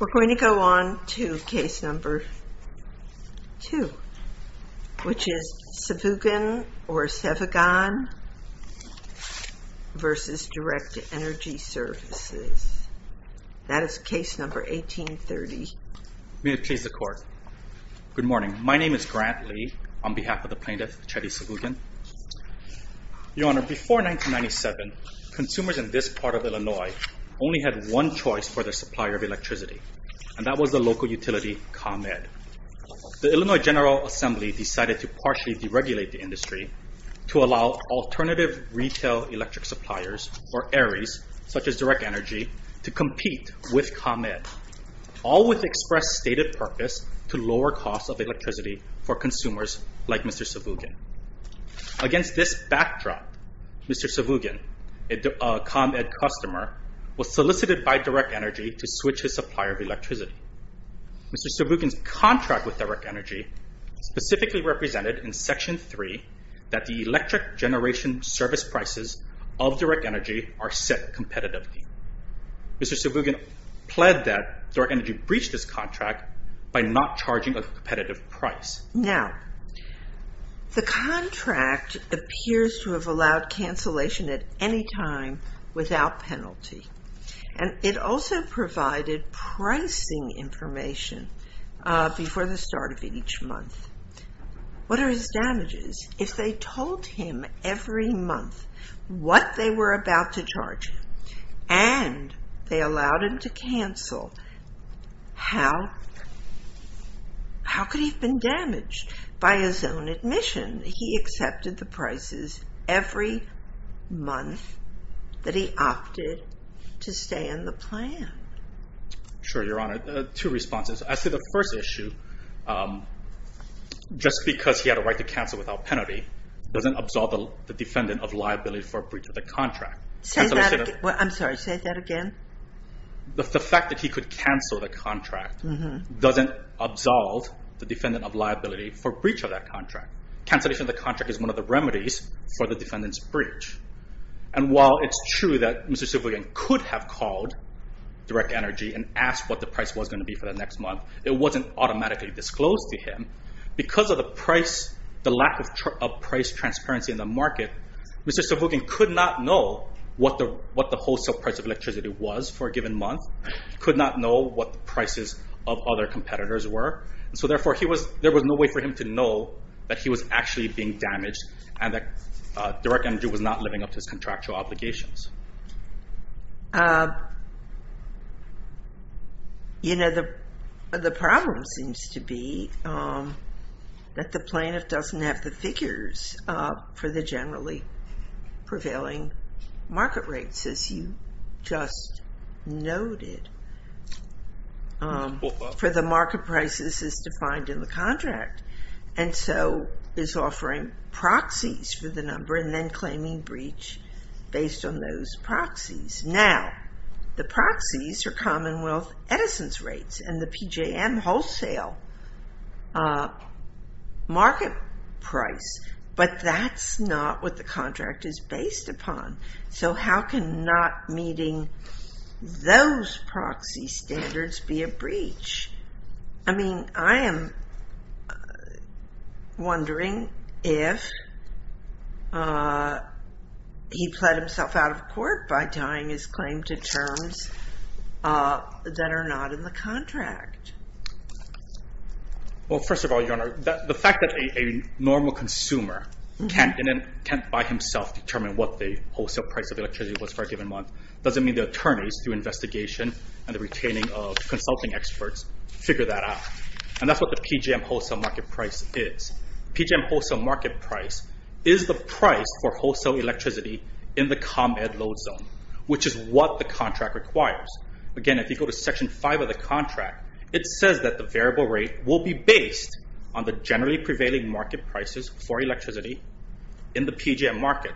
We're going to go on to case number two, which is Sevugan v. Direct Energy Services. That is case number 1830. May it please the Court. Good morning. My name is Grant Lee, on behalf of the plaintiff, Chetty Sevugan. Your Honor, before 1997, consumers in this part of Illinois only had one choice for their supplier of electricity, and that was the local utility ComEd. The Illinois General Assembly decided to partially deregulate the industry to allow alternative retail electric suppliers, or ARIES, such as Direct Energy, to compete with ComEd, all with express stated purpose to lower costs of electricity for consumers like Mr. Sevugan. Against this backdrop, Mr. Sevugan, a ComEd customer, was solicited by Direct Energy to switch his supplier of electricity. Mr. Sevugan's contract with Direct Energy specifically represented in Section 3 that the electric generation service prices of Direct Energy are set competitively. Mr. Sevugan pled that Direct Energy breached this contract by not charging a competitive price. Now, the contract appears to have allowed cancellation at any time without penalty, and it also provided pricing information before the start of each month. What are his damages if they told him every month what they were about to charge and they allowed him to cancel? How could he have been damaged? By his own admission, he accepted the prices every month that he opted to stay on the plan. Sure, Your Honor. Two responses. I'd say the first issue, just because he had a right to cancel without penalty, doesn't absolve the defendant of liability for a breach of the contract. Say that again. I'm sorry, say that again. The fact that he could cancel the contract doesn't absolve the defendant of liability for breach of that contract. Cancellation of the contract is one of the remedies for the defendant's breach. And while it's true that Mr. Sevugan could have called Direct Energy and asked what the price was going to be for the next month, it wasn't automatically disclosed to him. Because of the lack of price transparency in the market, Mr. Sevugan could not know what the wholesale price of electricity was for a given month, could not know what the prices of other competitors were, so therefore there was no way for him to know that he was actually being damaged and that Direct Energy was not living up to its contractual obligations. You know, the problem seems to be that the plaintiff doesn't have the figures for the generally prevailing market rates, as you just noted, for the market prices as defined in the contract. And so is offering proxies for the number and then claiming breach based on those proxies. Now, the proxies are Commonwealth Edison's rates and the PJM wholesale market price, but that's not what the contract is based upon. So how can not meeting those proxy standards be a breach? I mean, I am wondering if he pled himself out of court by tying his claim to terms that are not in the contract. Well, first of all, Your Honor, the fact that a normal consumer can't by himself determine what the wholesale price of electricity was for a given month doesn't mean the attorneys, through investigation and the retaining of consulting experts, figure that out. And that's what the PJM wholesale market price is. PJM wholesale market price is the price for wholesale electricity in the ComEd load zone, which is what the contract requires. Again, if you go to Section 5 of the contract, it says that the variable rate will be based on the generally prevailing market prices for electricity in the PJM market,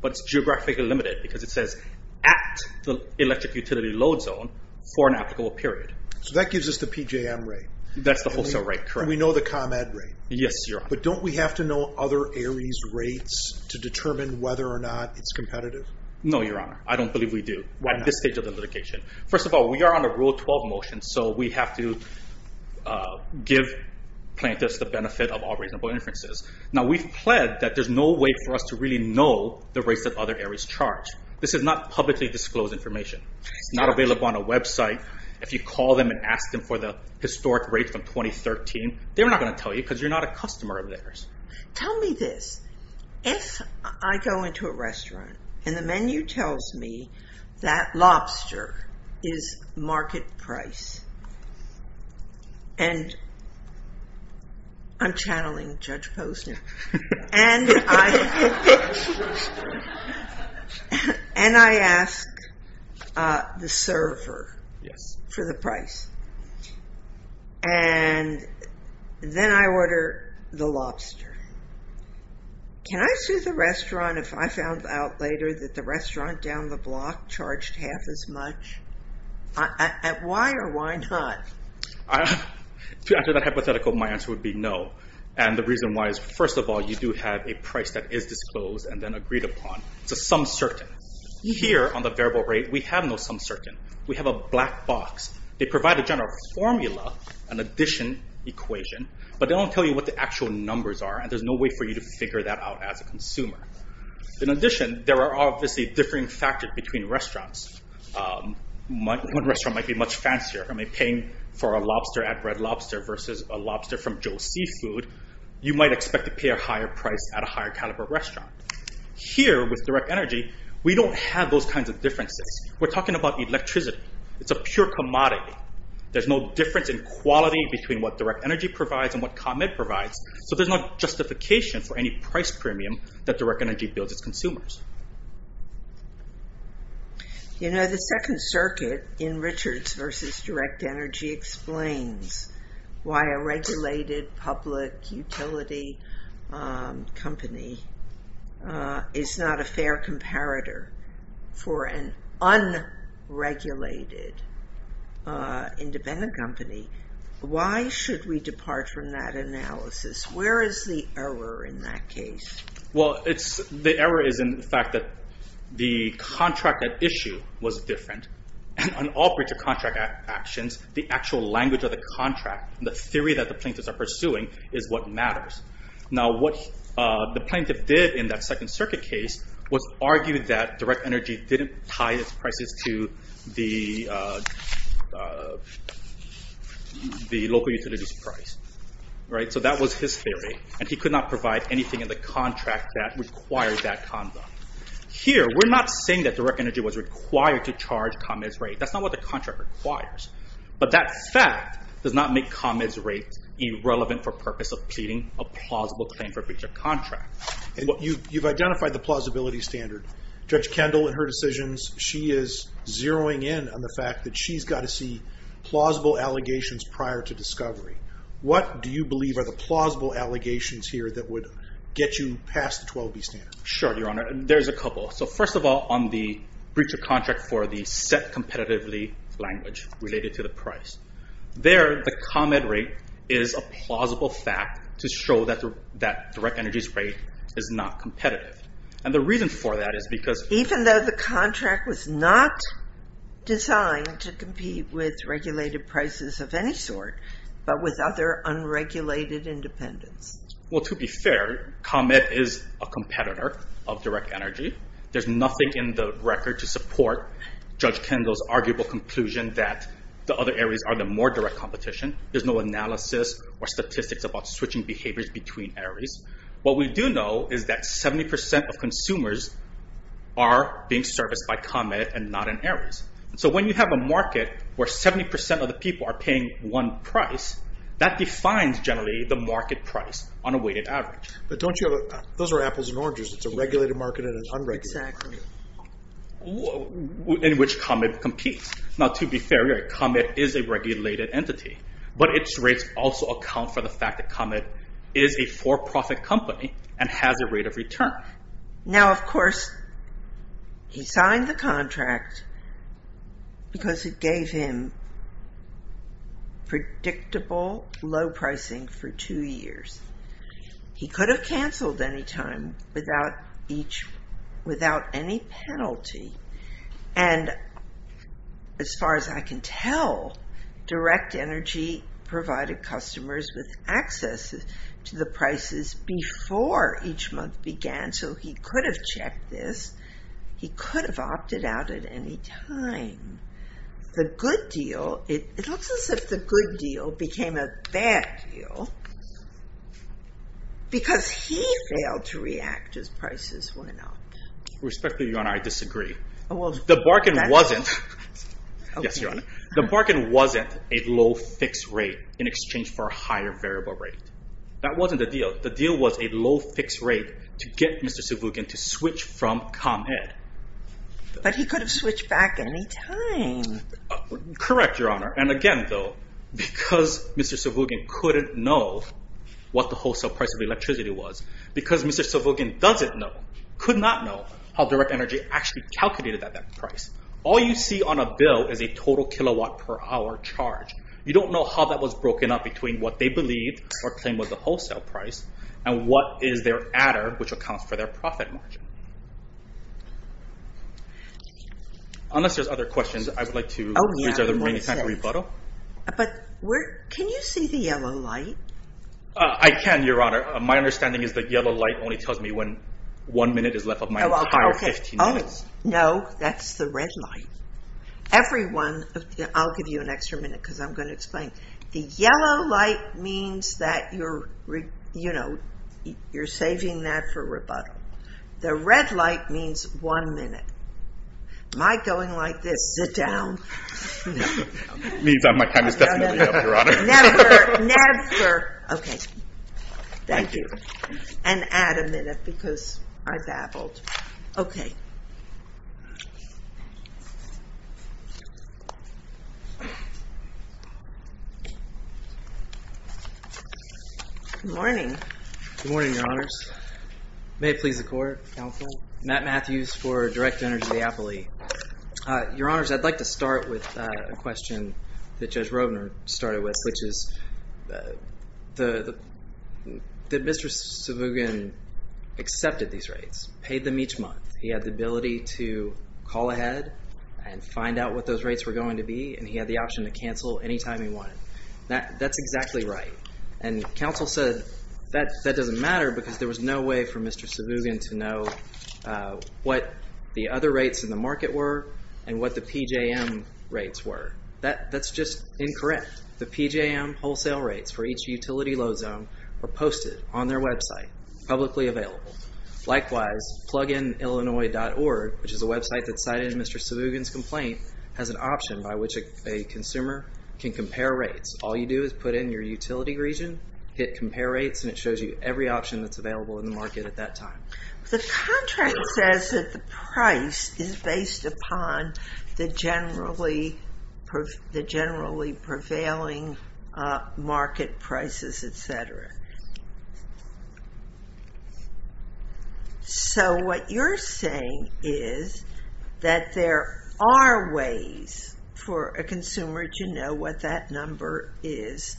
but it's geographically limited because it says at the electric utility load zone for an applicable period. So that gives us the PJM rate. That's the wholesale rate, correct. And we know the ComEd rate. Yes, Your Honor. But don't we have to know other Aries rates to determine whether or not it's competitive? No, Your Honor, I don't believe we do at this stage of the litigation. First of all, we are under Rule 12 motion, so we have to give plaintiffs the benefit of all reasonable inferences. Now, we've pled that there's no way for us to really know the rates that other Aries charge. This is not publicly disclosed information. It's not available on a website. If you call them and ask them for the historic rate from 2013, they're not going to tell you because you're not a customer of theirs. Tell me this. If I go into a restaurant and the menu tells me that lobster is market price and I'm channeling Judge Posner and I ask the server for the price and then I order the lobster, can I sue the restaurant if I found out later that the restaurant down the block charged half as much? Why or why not? To answer that hypothetical, my answer would be no. The reason why is, first of all, you do have a price that is disclosed and then agreed upon. It's a sum certain. Here on the variable rate, we have no sum certain. We have a black box. They provide a general formula, an addition equation, but they don't tell you what the actual numbers are and there's no way for you to figure that out as a consumer. In addition, there are obviously differing factors between restaurants. One restaurant might be much fancier. Paying for a lobster at Red Lobster versus a lobster from Joe's Seafood, you might expect to pay a higher price at a higher caliber restaurant. Here with direct energy, we don't have those kinds of differences. We're talking about electricity. It's a pure commodity. There's no difference in quality between what direct energy provides and what ComEd provides, so there's no justification for any price premium that direct energy builds its consumers. You know, the Second Circuit in Richards versus direct energy explains why a regulated public utility company is not a fair comparator for an unregulated independent company. Why should we depart from that analysis? Where is the error in that case? Well, the error is in the fact that the contract at issue was different, and on all breach of contract actions, the actual language of the contract, the theory that the plaintiffs are pursuing, is what matters. Now what the plaintiff did in that Second Circuit case was argue that direct energy didn't tie its prices to the local utility's price. So that was his theory, and he could not provide anything in the contract that required that conduct. Here, we're not saying that direct energy was required to charge ComEd's rate. That's not what the contract requires, but that fact does not make ComEd's rate irrelevant for purpose of pleading a plausible claim for breach of contract. You've identified the plausibility standard. Judge Kendall, in her decisions, she is zeroing in on the fact that she's got to see What do you believe are the plausible allegations here that would get you past the 12B standard? Sure, Your Honor. There's a couple. So first of all, on the breach of contract for the set competitively language related to the price, there, the ComEd rate is a plausible fact to show that direct energy's rate is not competitive. And the reason for that is because... Even though the contract was not designed to compete with regulated prices of any sort, but without their unregulated independence. Well, to be fair, ComEd is a competitor of direct energy. There's nothing in the record to support Judge Kendall's arguable conclusion that the other areas are the more direct competition. There's no analysis or statistics about switching behaviors between areas. What we do know is that 70% of consumers are being serviced by ComEd and not in areas. So when you have a market where 70% of the people are paying one price, that defines generally the market price on a weighted average. But don't you have... Those are apples and oranges. It's a regulated market and an unregulated market. Exactly. In which ComEd competes. Now, to be fair, ComEd is a regulated entity, but its rates also account for the fact that ComEd is a for-profit company and has a rate of return. Now, of course, he signed the contract because it gave him predictable low pricing for two years. He could have canceled any time without any penalty. And as far as I can tell, direct energy provided customers with access to the prices before each month began, so he could have checked this. He could have opted out at any time. The good deal... It looks as if the good deal became a bad deal because he failed to react as prices went up. Respectfully, Your Honor, I disagree. The bargain wasn't... Yes, Your Honor. The bargain wasn't a low fixed rate in exchange for a higher variable rate. That wasn't the deal. The deal was a low fixed rate to get Mr. Sivugan to switch from ComEd. But he could have switched back any time. Correct, Your Honor. And again, though, because Mr. Sivugan couldn't know what the wholesale price of electricity was, because Mr. Sivugan doesn't know, could not know, how direct energy actually calculated at that price. All you see on a bill is a total kilowatt per hour charge. You don't know how that was broken up between what they believed or claimed was the wholesale price and what is their adder, which accounts for their profit margin. Unless there's other questions, I would like to reserve the remaining time to rebuttal. But can you see the yellow light? I can, Your Honor. My understanding is the yellow light only tells me when one minute is left of my entire 15 minutes. No, that's the red light. Everyone, I'll give you an extra minute because I'm going to explain. The yellow light means that you're saving that for rebuttal. The red light means one minute. Am I going like this? Sit down. It means that my time is definitely up, Your Honor. Never, never. Okay, thank you. And add a minute because I babbled. Okay. Good morning. Good morning, Your Honors. May it please the Court. Counsel. Matt Matthews for Direct Energy Appley. Your Honors, I'd like to start with a question that Judge Robner started with, which is that Mr. Savugan accepted these rates, paid them each month. He had the ability to call ahead and find out what those rates were going to be, and he had the option to cancel any time he wanted. That's exactly right. And counsel said that doesn't matter because there was no way for Mr. Savugan to know what the other rates in the market were and what the PJM rates were. That's just incorrect. The PJM wholesale rates for each utility load zone were posted on their website, publicly available. Likewise, PluginIllinois.org, which is a website that cited Mr. Savugan's complaint, has an option by which a consumer can compare rates. All you do is put in your utility region, hit Compare Rates, and it shows you every option that's available in the market at that time. The contract says that the price is based upon the generally prevailing market prices, etc. So what you're saying is that there are ways for a consumer to know what that number is,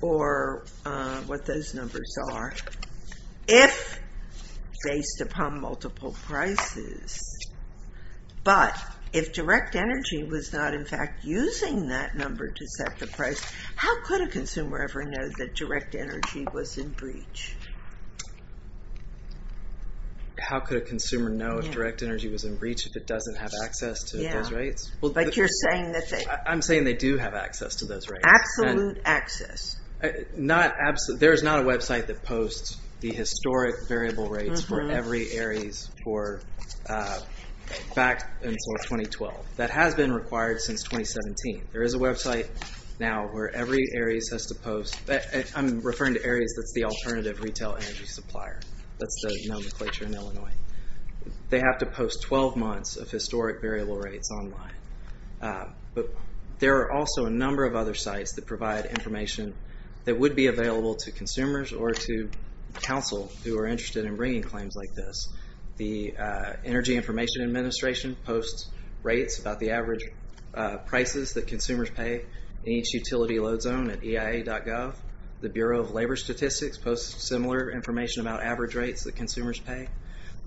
or what those numbers are, if based upon multiple prices. But if direct energy was not, in fact, using that number to set the price, how could a consumer ever know that direct energy was in breach? How could a consumer know if direct energy was in breach if it doesn't have access to those rates? I'm saying they do have access to those rates. Absolute access. There is not a website that posts the historic variable rates for every ARIES back until 2012. That has been required since 2017. There is a website now where every ARIES has to post... I'm referring to ARIES that's the Alternative Retail Energy Supplier. That's the nomenclature in Illinois. They have to post 12 months of historic variable rates online. But there are also a number of other sites that provide information that would be available to consumers or to counsel who are interested in bringing claims like this. The Energy Information Administration posts rates about the average prices that consumers pay in each utility load zone at eia.gov. The Bureau of Labor Statistics posts similar information about average rates that consumers pay.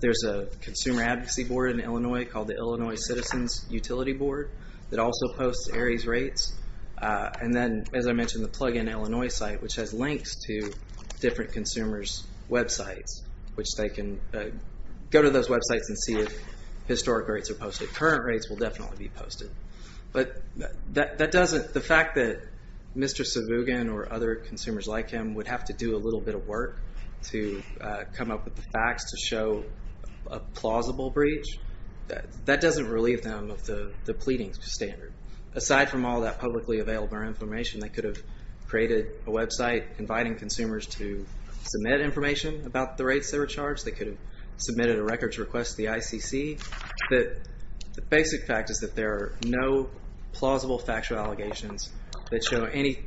There's a consumer advocacy board in Illinois called the Illinois Citizens Utility Board that also posts ARIES rates. And then, as I mentioned, the Plugin Illinois site which has links to different consumers' websites which they can go to those websites and see if historic rates are posted. Current rates will definitely be posted. The fact that Mr. Savugan or other consumers like him would have to do a little bit of work to come up with the facts to show a plausible breach, that doesn't relieve them of the pleading standard. Aside from all that publicly available information, they could have created a website inviting consumers to submit information about the rates they were charged. They could have submitted a records request to the ICC. The basic fact is that there are no plausible factual allegations that show any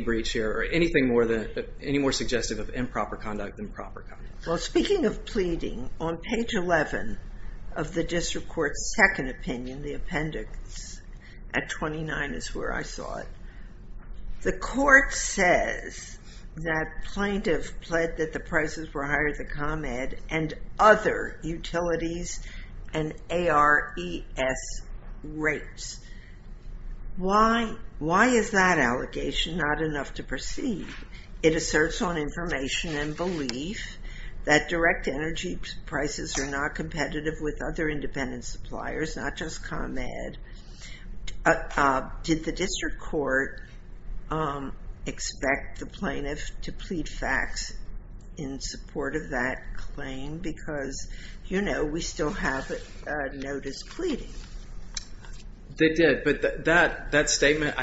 breach here or anything more suggestive of improper conduct than proper conduct. Speaking of pleading, on page 11 of the district court's second opinion, the appendix at 29 is where I saw it, the court says that plaintiff pled that the prices were higher at the ComEd and other utilities and ARIES rates. Why is that allegation not enough to proceed? It asserts on information and belief that direct energy prices are not competitive with other independent suppliers, not just ComEd. Did the district court expect the plaintiff to plead facts in support of that claim? Because we still have a notice pleading. They did, but that statement,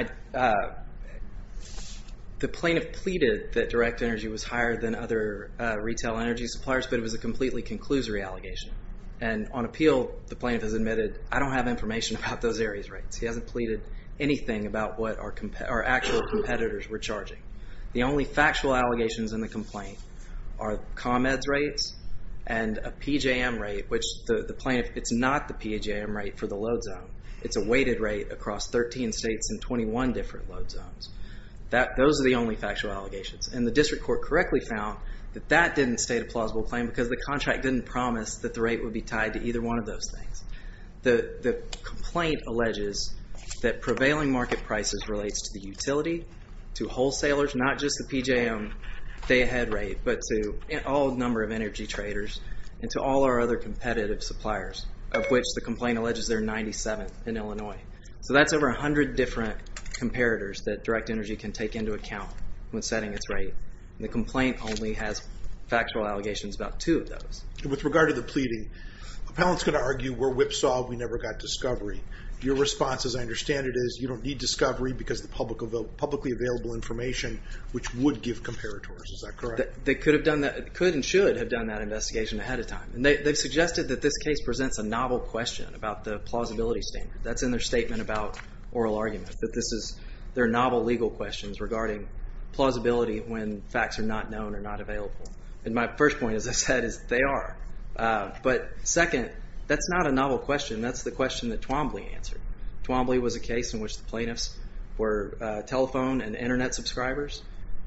the plaintiff pleaded that direct energy was higher than other retail energy suppliers, but it was a completely conclusory allegation. And on appeal, the plaintiff has admitted, I don't have information about those ARIES rates. He hasn't pleaded anything about what our actual competitors were charging. The only factual allegations in the complaint are ComEd's rates and a PJM rate, which the plaintiff, it's not the PJM rate for the load zone. It's a weighted rate across 13 states and 21 different load zones. Those are the only factual allegations. And the district court correctly found that that didn't state a plausible claim because the contract didn't promise that the rate would be tied to either one of those things. The complaint alleges that prevailing market prices relates to the utility, to wholesalers, not just the PJM day ahead rate, but to all number of energy traders and to all our other competitive suppliers, of which the complaint alleges they're 97th in Illinois. So that's over 100 different comparators that direct energy can take into account when setting its rate. The complaint only has factual allegations about two of those. With regard to the pleading, appellant's going to argue we're whipsawed, we never got discovery. Your response, as I understand it, is you don't need discovery because the publicly available information, which would give comparators. Is that correct? They could and should have done that investigation ahead of time. They've suggested that this case presents a novel question about the plausibility standard. That's in their statement about oral arguments, that this is their novel legal questions regarding plausibility when facts are not known or not available. And my first point, as I said, is they are. But second, that's not a novel question. That's the question that Twombly answered. Twombly was a case in which the plaintiffs were telephone and Internet subscribers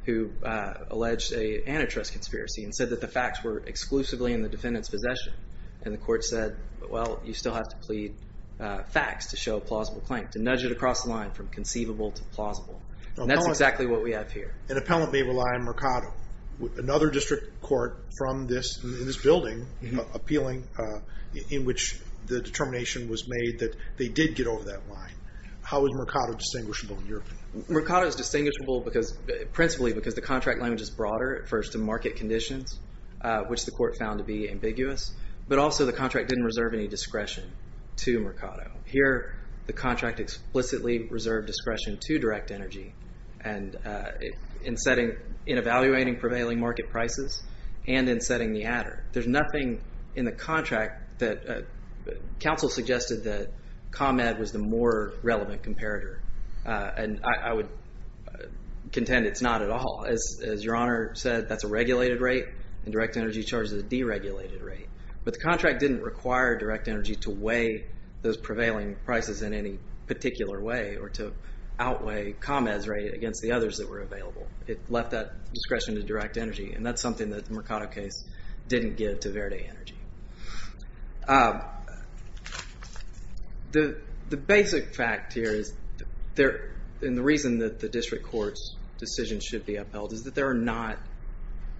who alleged an antitrust conspiracy and said that the facts were exclusively in the defendant's possession. And the court said, well, you still have to plead facts to show a plausible claim, to nudge it across the line from conceivable to plausible. And that's exactly what we have here. An appellant may rely on Mercado, another district court in this building appealing, in which the determination was made that they did get over that line. How is Mercado distinguishable in your opinion? Mercado is distinguishable principally because the contract language is broader. First, the market conditions, which the court found to be ambiguous. But also, the contract didn't reserve any discretion to Mercado. Here, the contract explicitly reserved discretion to Direct Energy in evaluating prevailing market prices and in setting the adder. There's nothing in the contract that counsel suggested that ComEd was the more relevant comparator. And I would contend it's not at all. As Your Honor said, that's a regulated rate, and Direct Energy charges a deregulated rate. But the contract didn't require Direct Energy to weigh those prevailing prices in any particular way or to outweigh ComEd's rate against the others that were available. It left that discretion to Direct Energy, and that's something that the Mercado case didn't give to Verde Energy. The basic fact here is, and the reason that the district court's decision should be upheld is that there are not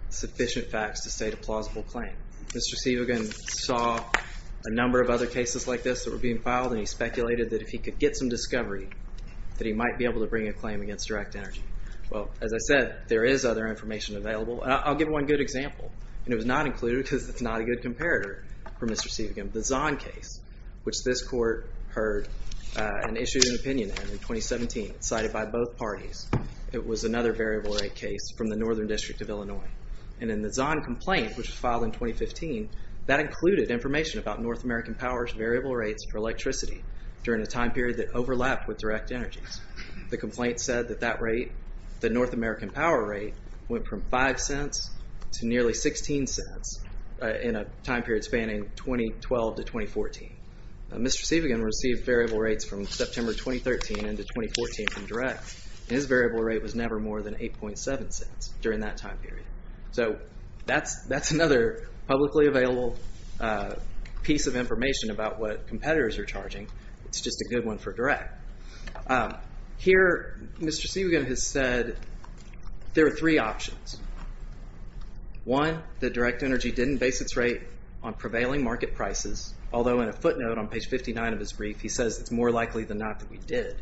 sufficient facts to state a plausible claim. Mr. Sivagan saw a number of other cases like this that were being filed, and he speculated that if he could get some discovery that he might be able to bring a claim against Direct Energy. Well, as I said, there is other information available. I'll give one good example, and it was not included because it's not a good comparator for Mr. Sivagan. The Zahn case, which this court heard and issued an opinion in 2017, cited by both parties. It was another variable rate case from the Northern District of Illinois. And in the Zahn complaint, which was filed in 2015, that included information about North American power's variable rates for electricity during a time period that overlapped with Direct Energy's. The complaint said that that rate, the North American power rate, went from $0.05 to nearly $0.16 in a time period spanning 2012 to 2014. Mr. Sivagan received variable rates from September 2013 into 2014 from Direct, and his variable rate was never more than $0.087 during that time period. So that's another publicly available piece of information about what competitors are charging. It's just a good one for Direct. Here, Mr. Sivagan has said there are three options. One, that Direct Energy didn't base its rate on prevailing market prices, although in a footnote on page 59 of his brief, he says it's more likely than not that we did.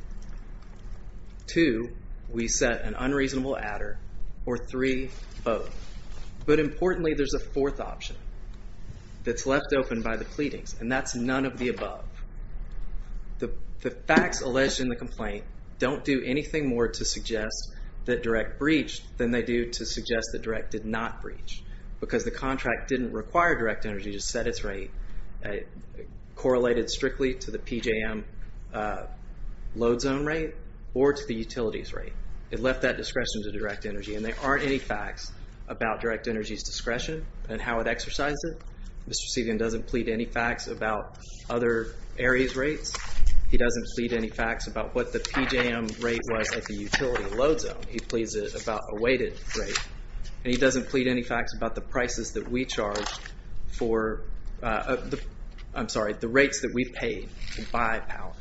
Two, we set an unreasonable adder. Or three, both. But importantly, there's a fourth option that's left open by the pleadings, and that's none of the above. The facts alleged in the complaint don't do anything more to suggest that Direct breached than they do to suggest that Direct did not breach, because the contract didn't require Direct Energy to set its rate. It correlated strictly to the PJM load zone rate or to the utilities rate. It left that discretion to Direct Energy, and there aren't any facts about Direct Energy's discretion and how it exercised it. Mr. Sivagan doesn't plead any facts about other areas' rates. He doesn't plead any facts about what the PJM rate was at the utility load zone. He pleads it about a weighted rate, and he doesn't plead any facts about the prices that we charged for, I'm sorry, the rates that we paid by power.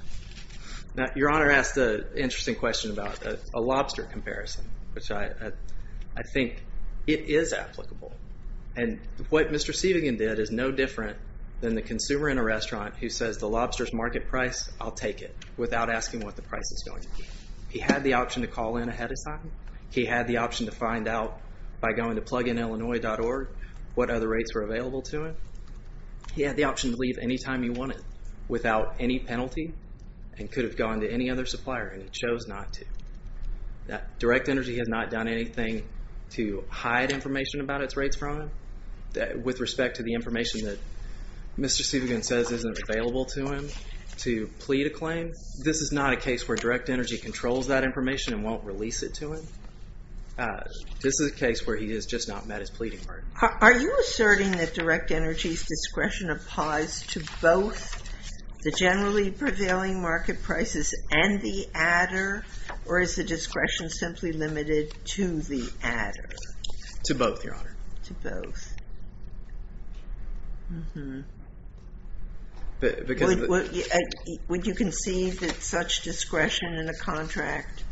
Now, Your Honor asked an interesting question about a lobster comparison, which I think it is applicable. And what Mr. Sivagan did is no different than the consumer in a restaurant who says the lobster's market price, I'll take it, without asking what the price is going to be. He had the option to call in ahead of time. He had the option to find out by going to PluginIllinois.org what other rates were available to him. He had the option to leave any time he wanted without any penalty and could have gone to any other supplier, and he chose not to. Direct Energy has not done anything to hide information about its rates from him with respect to the information that Mr. Sivagan says isn't available to him to plead a claim. This is not a case where Direct Energy controls that information and won't release it to him. This is a case where he has just not met his pleading part. Are you asserting that Direct Energy's discretion applies to both the generally prevailing market prices and the adder, or is the discretion simply limited to the adder? To both, Your Honor. To both. Would you concede that such discretion in a contract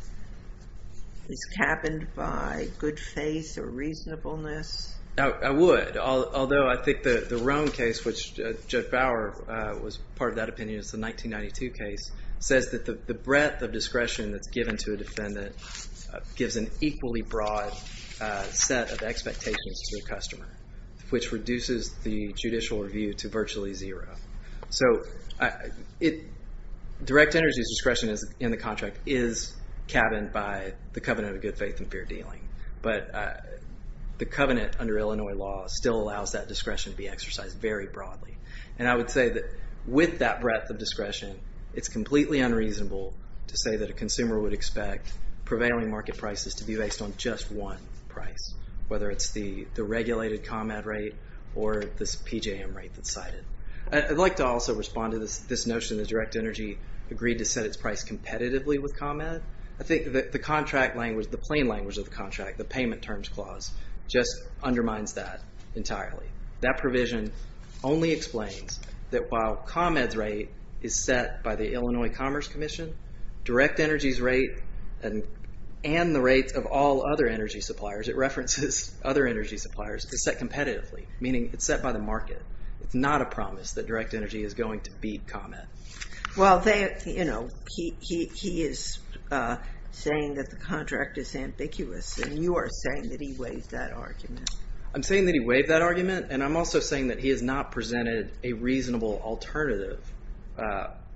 is capped by good faith or reasonableness? I would, although I think the Rome case, which Judge Bower was part of that opinion, it's a 1992 case, says that the breadth of discretion that's given to a defendant gives an equally broad set of expectations to the customer, which reduces the judicial review to virtually zero. So Direct Energy's discretion in the contract is cabined by the covenant of good faith and fair dealing. But the covenant under Illinois law still allows that discretion to be exercised very broadly. And I would say that with that breadth of discretion, it's completely unreasonable to say that a consumer would expect prevailing market prices to be based on just one price, whether it's the regulated ComEd rate or this PJM rate that's cited. I'd like to also respond to this notion that Direct Energy agreed to set its price competitively with ComEd. I think that the contract language, the plain language of the contract, the payment terms clause, just undermines that entirely. That provision only explains that while ComEd's rate is set by the Illinois Commerce Commission, Direct Energy's rate and the rates of all other energy suppliers, it references other energy suppliers, is set competitively, meaning it's set by the market. It's not a promise that Direct Energy is going to beat ComEd. Well, he is saying that the contract is ambiguous, and you are saying that he waived that argument. I'm saying that he waived that argument, and I'm also saying that he has not presented a reasonable alternative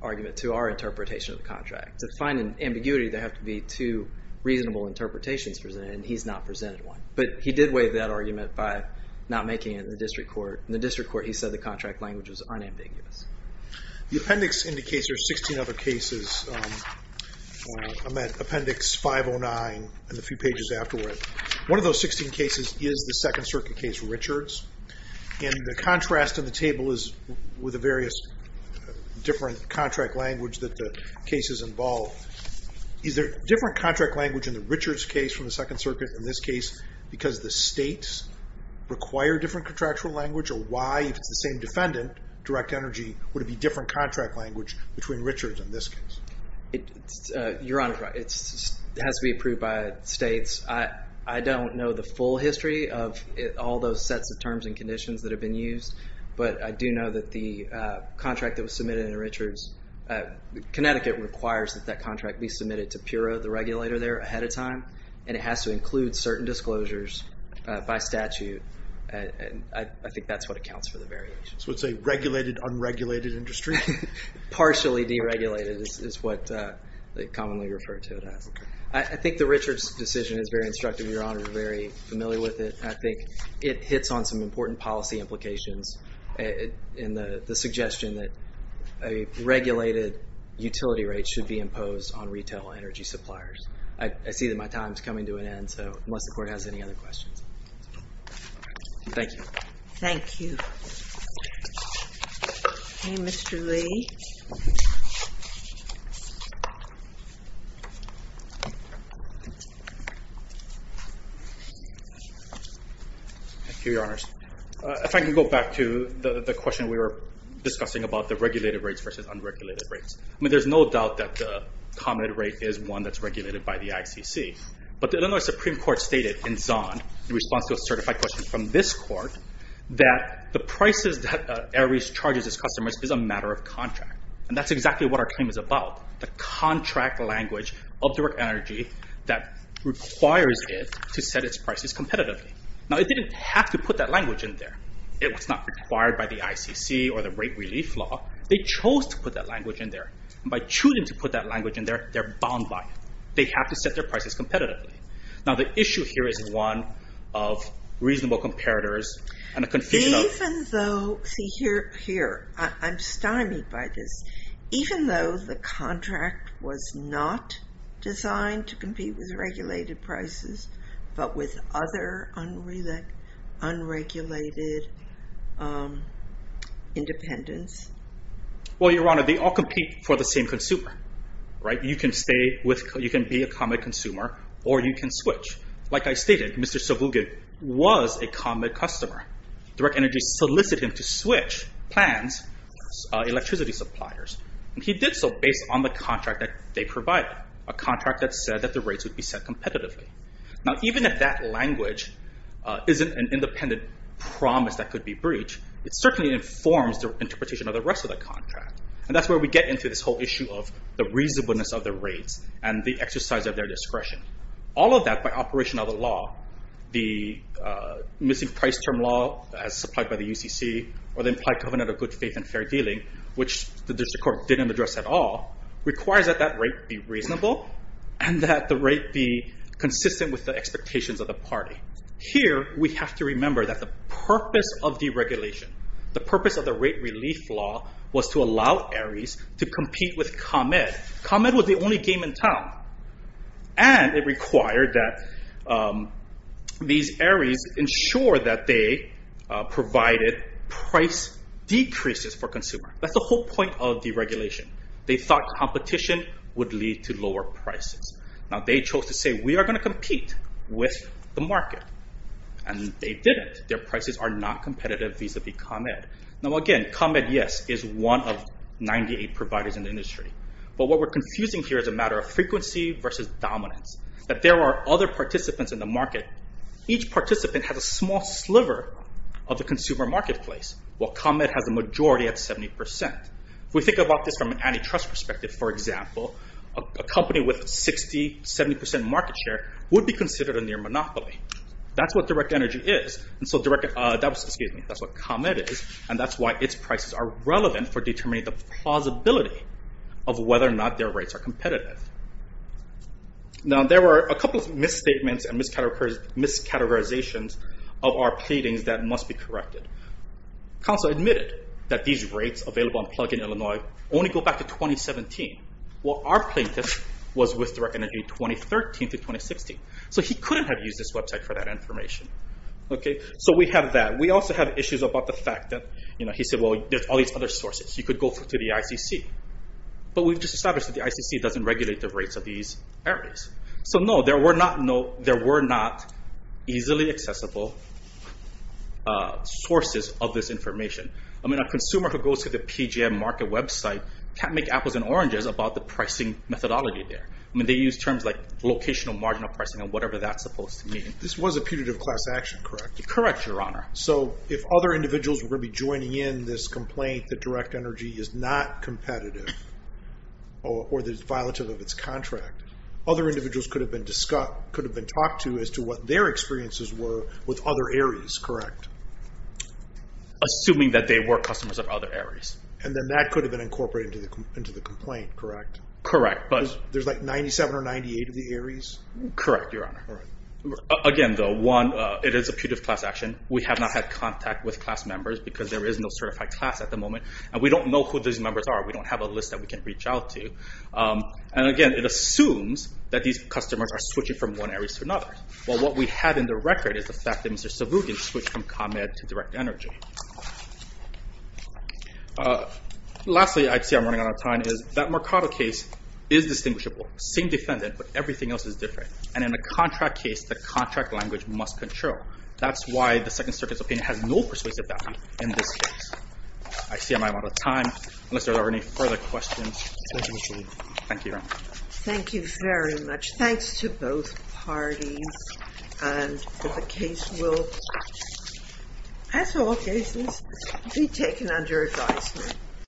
argument to our interpretation of the contract. To find an ambiguity, there have to be two reasonable interpretations presented, and he's not presented one. But he did waive that argument by not making it in the district court. In the district court, he said the contract language was unambiguous. The appendix indicates there are 16 other cases. I'm at appendix 509 and a few pages afterward. One of those 16 cases is the Second Circuit case Richards, and the contrast on the table is with the various different contract language that the cases involve. Is there different contract language in the Richards case from the Second Circuit in this case because the states require different contractual language, or why, if it's the same defendant, Direct Energy, would it be different contract language between Richards in this case? Your Honor, it has to be approved by states. I don't know the full history of all those sets of terms and conditions that have been used, but I do know that the contract that was submitted in Richards, Connecticut requires that that contract be submitted to Pura, the regulator there, ahead of time, and it has to include certain disclosures by statute. I think that's what accounts for the variations. So it's a regulated, unregulated industry? Partially deregulated is what they commonly refer to it as. I think the Richards decision is very instructive. Your Honor is very familiar with it. I think it hits on some important policy implications in the suggestion that a regulated utility rate should be imposed on retail energy suppliers. I see that my time is coming to an end, so unless the Court has any other questions. Thank you. Thank you. Okay, Mr. Lee. Thank you, Your Honors. If I can go back to the question we were discussing about the regulated rates versus unregulated rates. I mean, there's no doubt that the common rate is one that's regulated by the ICC, but the Illinois Supreme Court stated in Zond, in response to a certified question from this Court, that the prices that Aries charges its customers is a matter of contract, and that's exactly what our claim is about, the contract language of direct energy that requires it to set its prices competitively. Now, it didn't have to put that language in there. It was not required by the ICC or the rate relief law. They chose to put that language in there, and by choosing to put that language in there, they're bound by it. They have to set their prices competitively. Now, the issue here is one of reasonable comparators and the confusion of Even though, see, here, I'm stymied by this. Even though the contract was not designed to compete with regulated prices, but with other unregulated independents? Well, Your Honor, they all compete for the same consumer, right? You can be a common consumer, or you can switch. Like I stated, Mr. Savuge was a common customer. Direct energy solicited him to switch plans, electricity suppliers, and he did so based on the contract that they provided, a contract that said that the rates would be set competitively. Now, even if that language isn't an independent promise that could be breached, it certainly informs the interpretation of the rest of the contract, and that's where we get into this whole issue of the reasonableness of the rates and the exercise of their discretion. All of that, by operation of the law, the missing price term law, as supplied by the UCC, or the implied covenant of good faith and fair dealing, which the district court didn't address at all, requires that that rate be reasonable, and that the rate be consistent with the expectations of the party. Here, we have to remember that the purpose of deregulation, the purpose of the rate relief law, was to allow Aries to compete with ComEd. ComEd was the only game in town, and it required that these Aries ensure that they provided price decreases for consumers. That's the whole point of deregulation. They thought competition would lead to lower prices. Now, they chose to say, we are going to compete with the market, and they didn't. Their prices are not competitive vis-a-vis ComEd. Now, again, ComEd, yes, is one of 98 providers in the industry, but what we're confusing here is a matter of frequency versus dominance, that there are other participants in the market. Each participant has a small sliver of the consumer marketplace, while ComEd has a majority at 70%. If we think about this from an antitrust perspective, for example, a company with 60%, 70% market share would be considered a near monopoly. That's what ComEd is, and that's why its prices are relevant for determining the plausibility of whether or not their rates are competitive. Now, there were a couple of misstatements and miscategorizations of our pleadings that must be corrected. Counsel admitted that these rates available on Plugin Illinois only go back to 2017, while our plaintiff was with Direct Energy 2013 to 2016. So he couldn't have used this website for that information. So we have that. We also have issues about the fact that he said, well, there's all these other sources. He could go to the ICC. But we've just established that the ICC doesn't regulate the rates of these areas. So no, there were not easily accessible sources of this information. A consumer who goes to the PGM market website can't make apples and oranges about the pricing methodology there. I mean, they use terms like locational marginal pricing and whatever that's supposed to mean. This was a putative class action, correct? Correct, Your Honor. So if other individuals were going to be joining in this complaint that Direct Energy is not competitive or that it's violative of its contract, other individuals could have been talked to as to what their experiences were with other areas, correct? Assuming that they were customers of other areas. And then that could have been incorporated into the complaint, correct? Correct. There's like 97 or 98 of the areas? Correct, Your Honor. Again, though, it is a putative class action. We have not had contact with class members because there is no certified class at the moment. And we don't know who these members are. We don't have a list that we can reach out to. And again, it assumes that these customers are switching from one area to another. Well, what we have in the record is the fact that Mr. Savookin switched from ComEd to Direct Energy. Lastly, I see I'm running out of time, is that Mercado case is distinguishable. Same defendant, but everything else is different. And in a contract case, the contract language must control. That's why the Second Circuit's opinion has no persuasive value in this case. I see I'm out of time. Unless there are any further questions, thank you, Your Honor. Thank you very much. Thanks to both parties. And the case will, as all cases, be taken under advisement.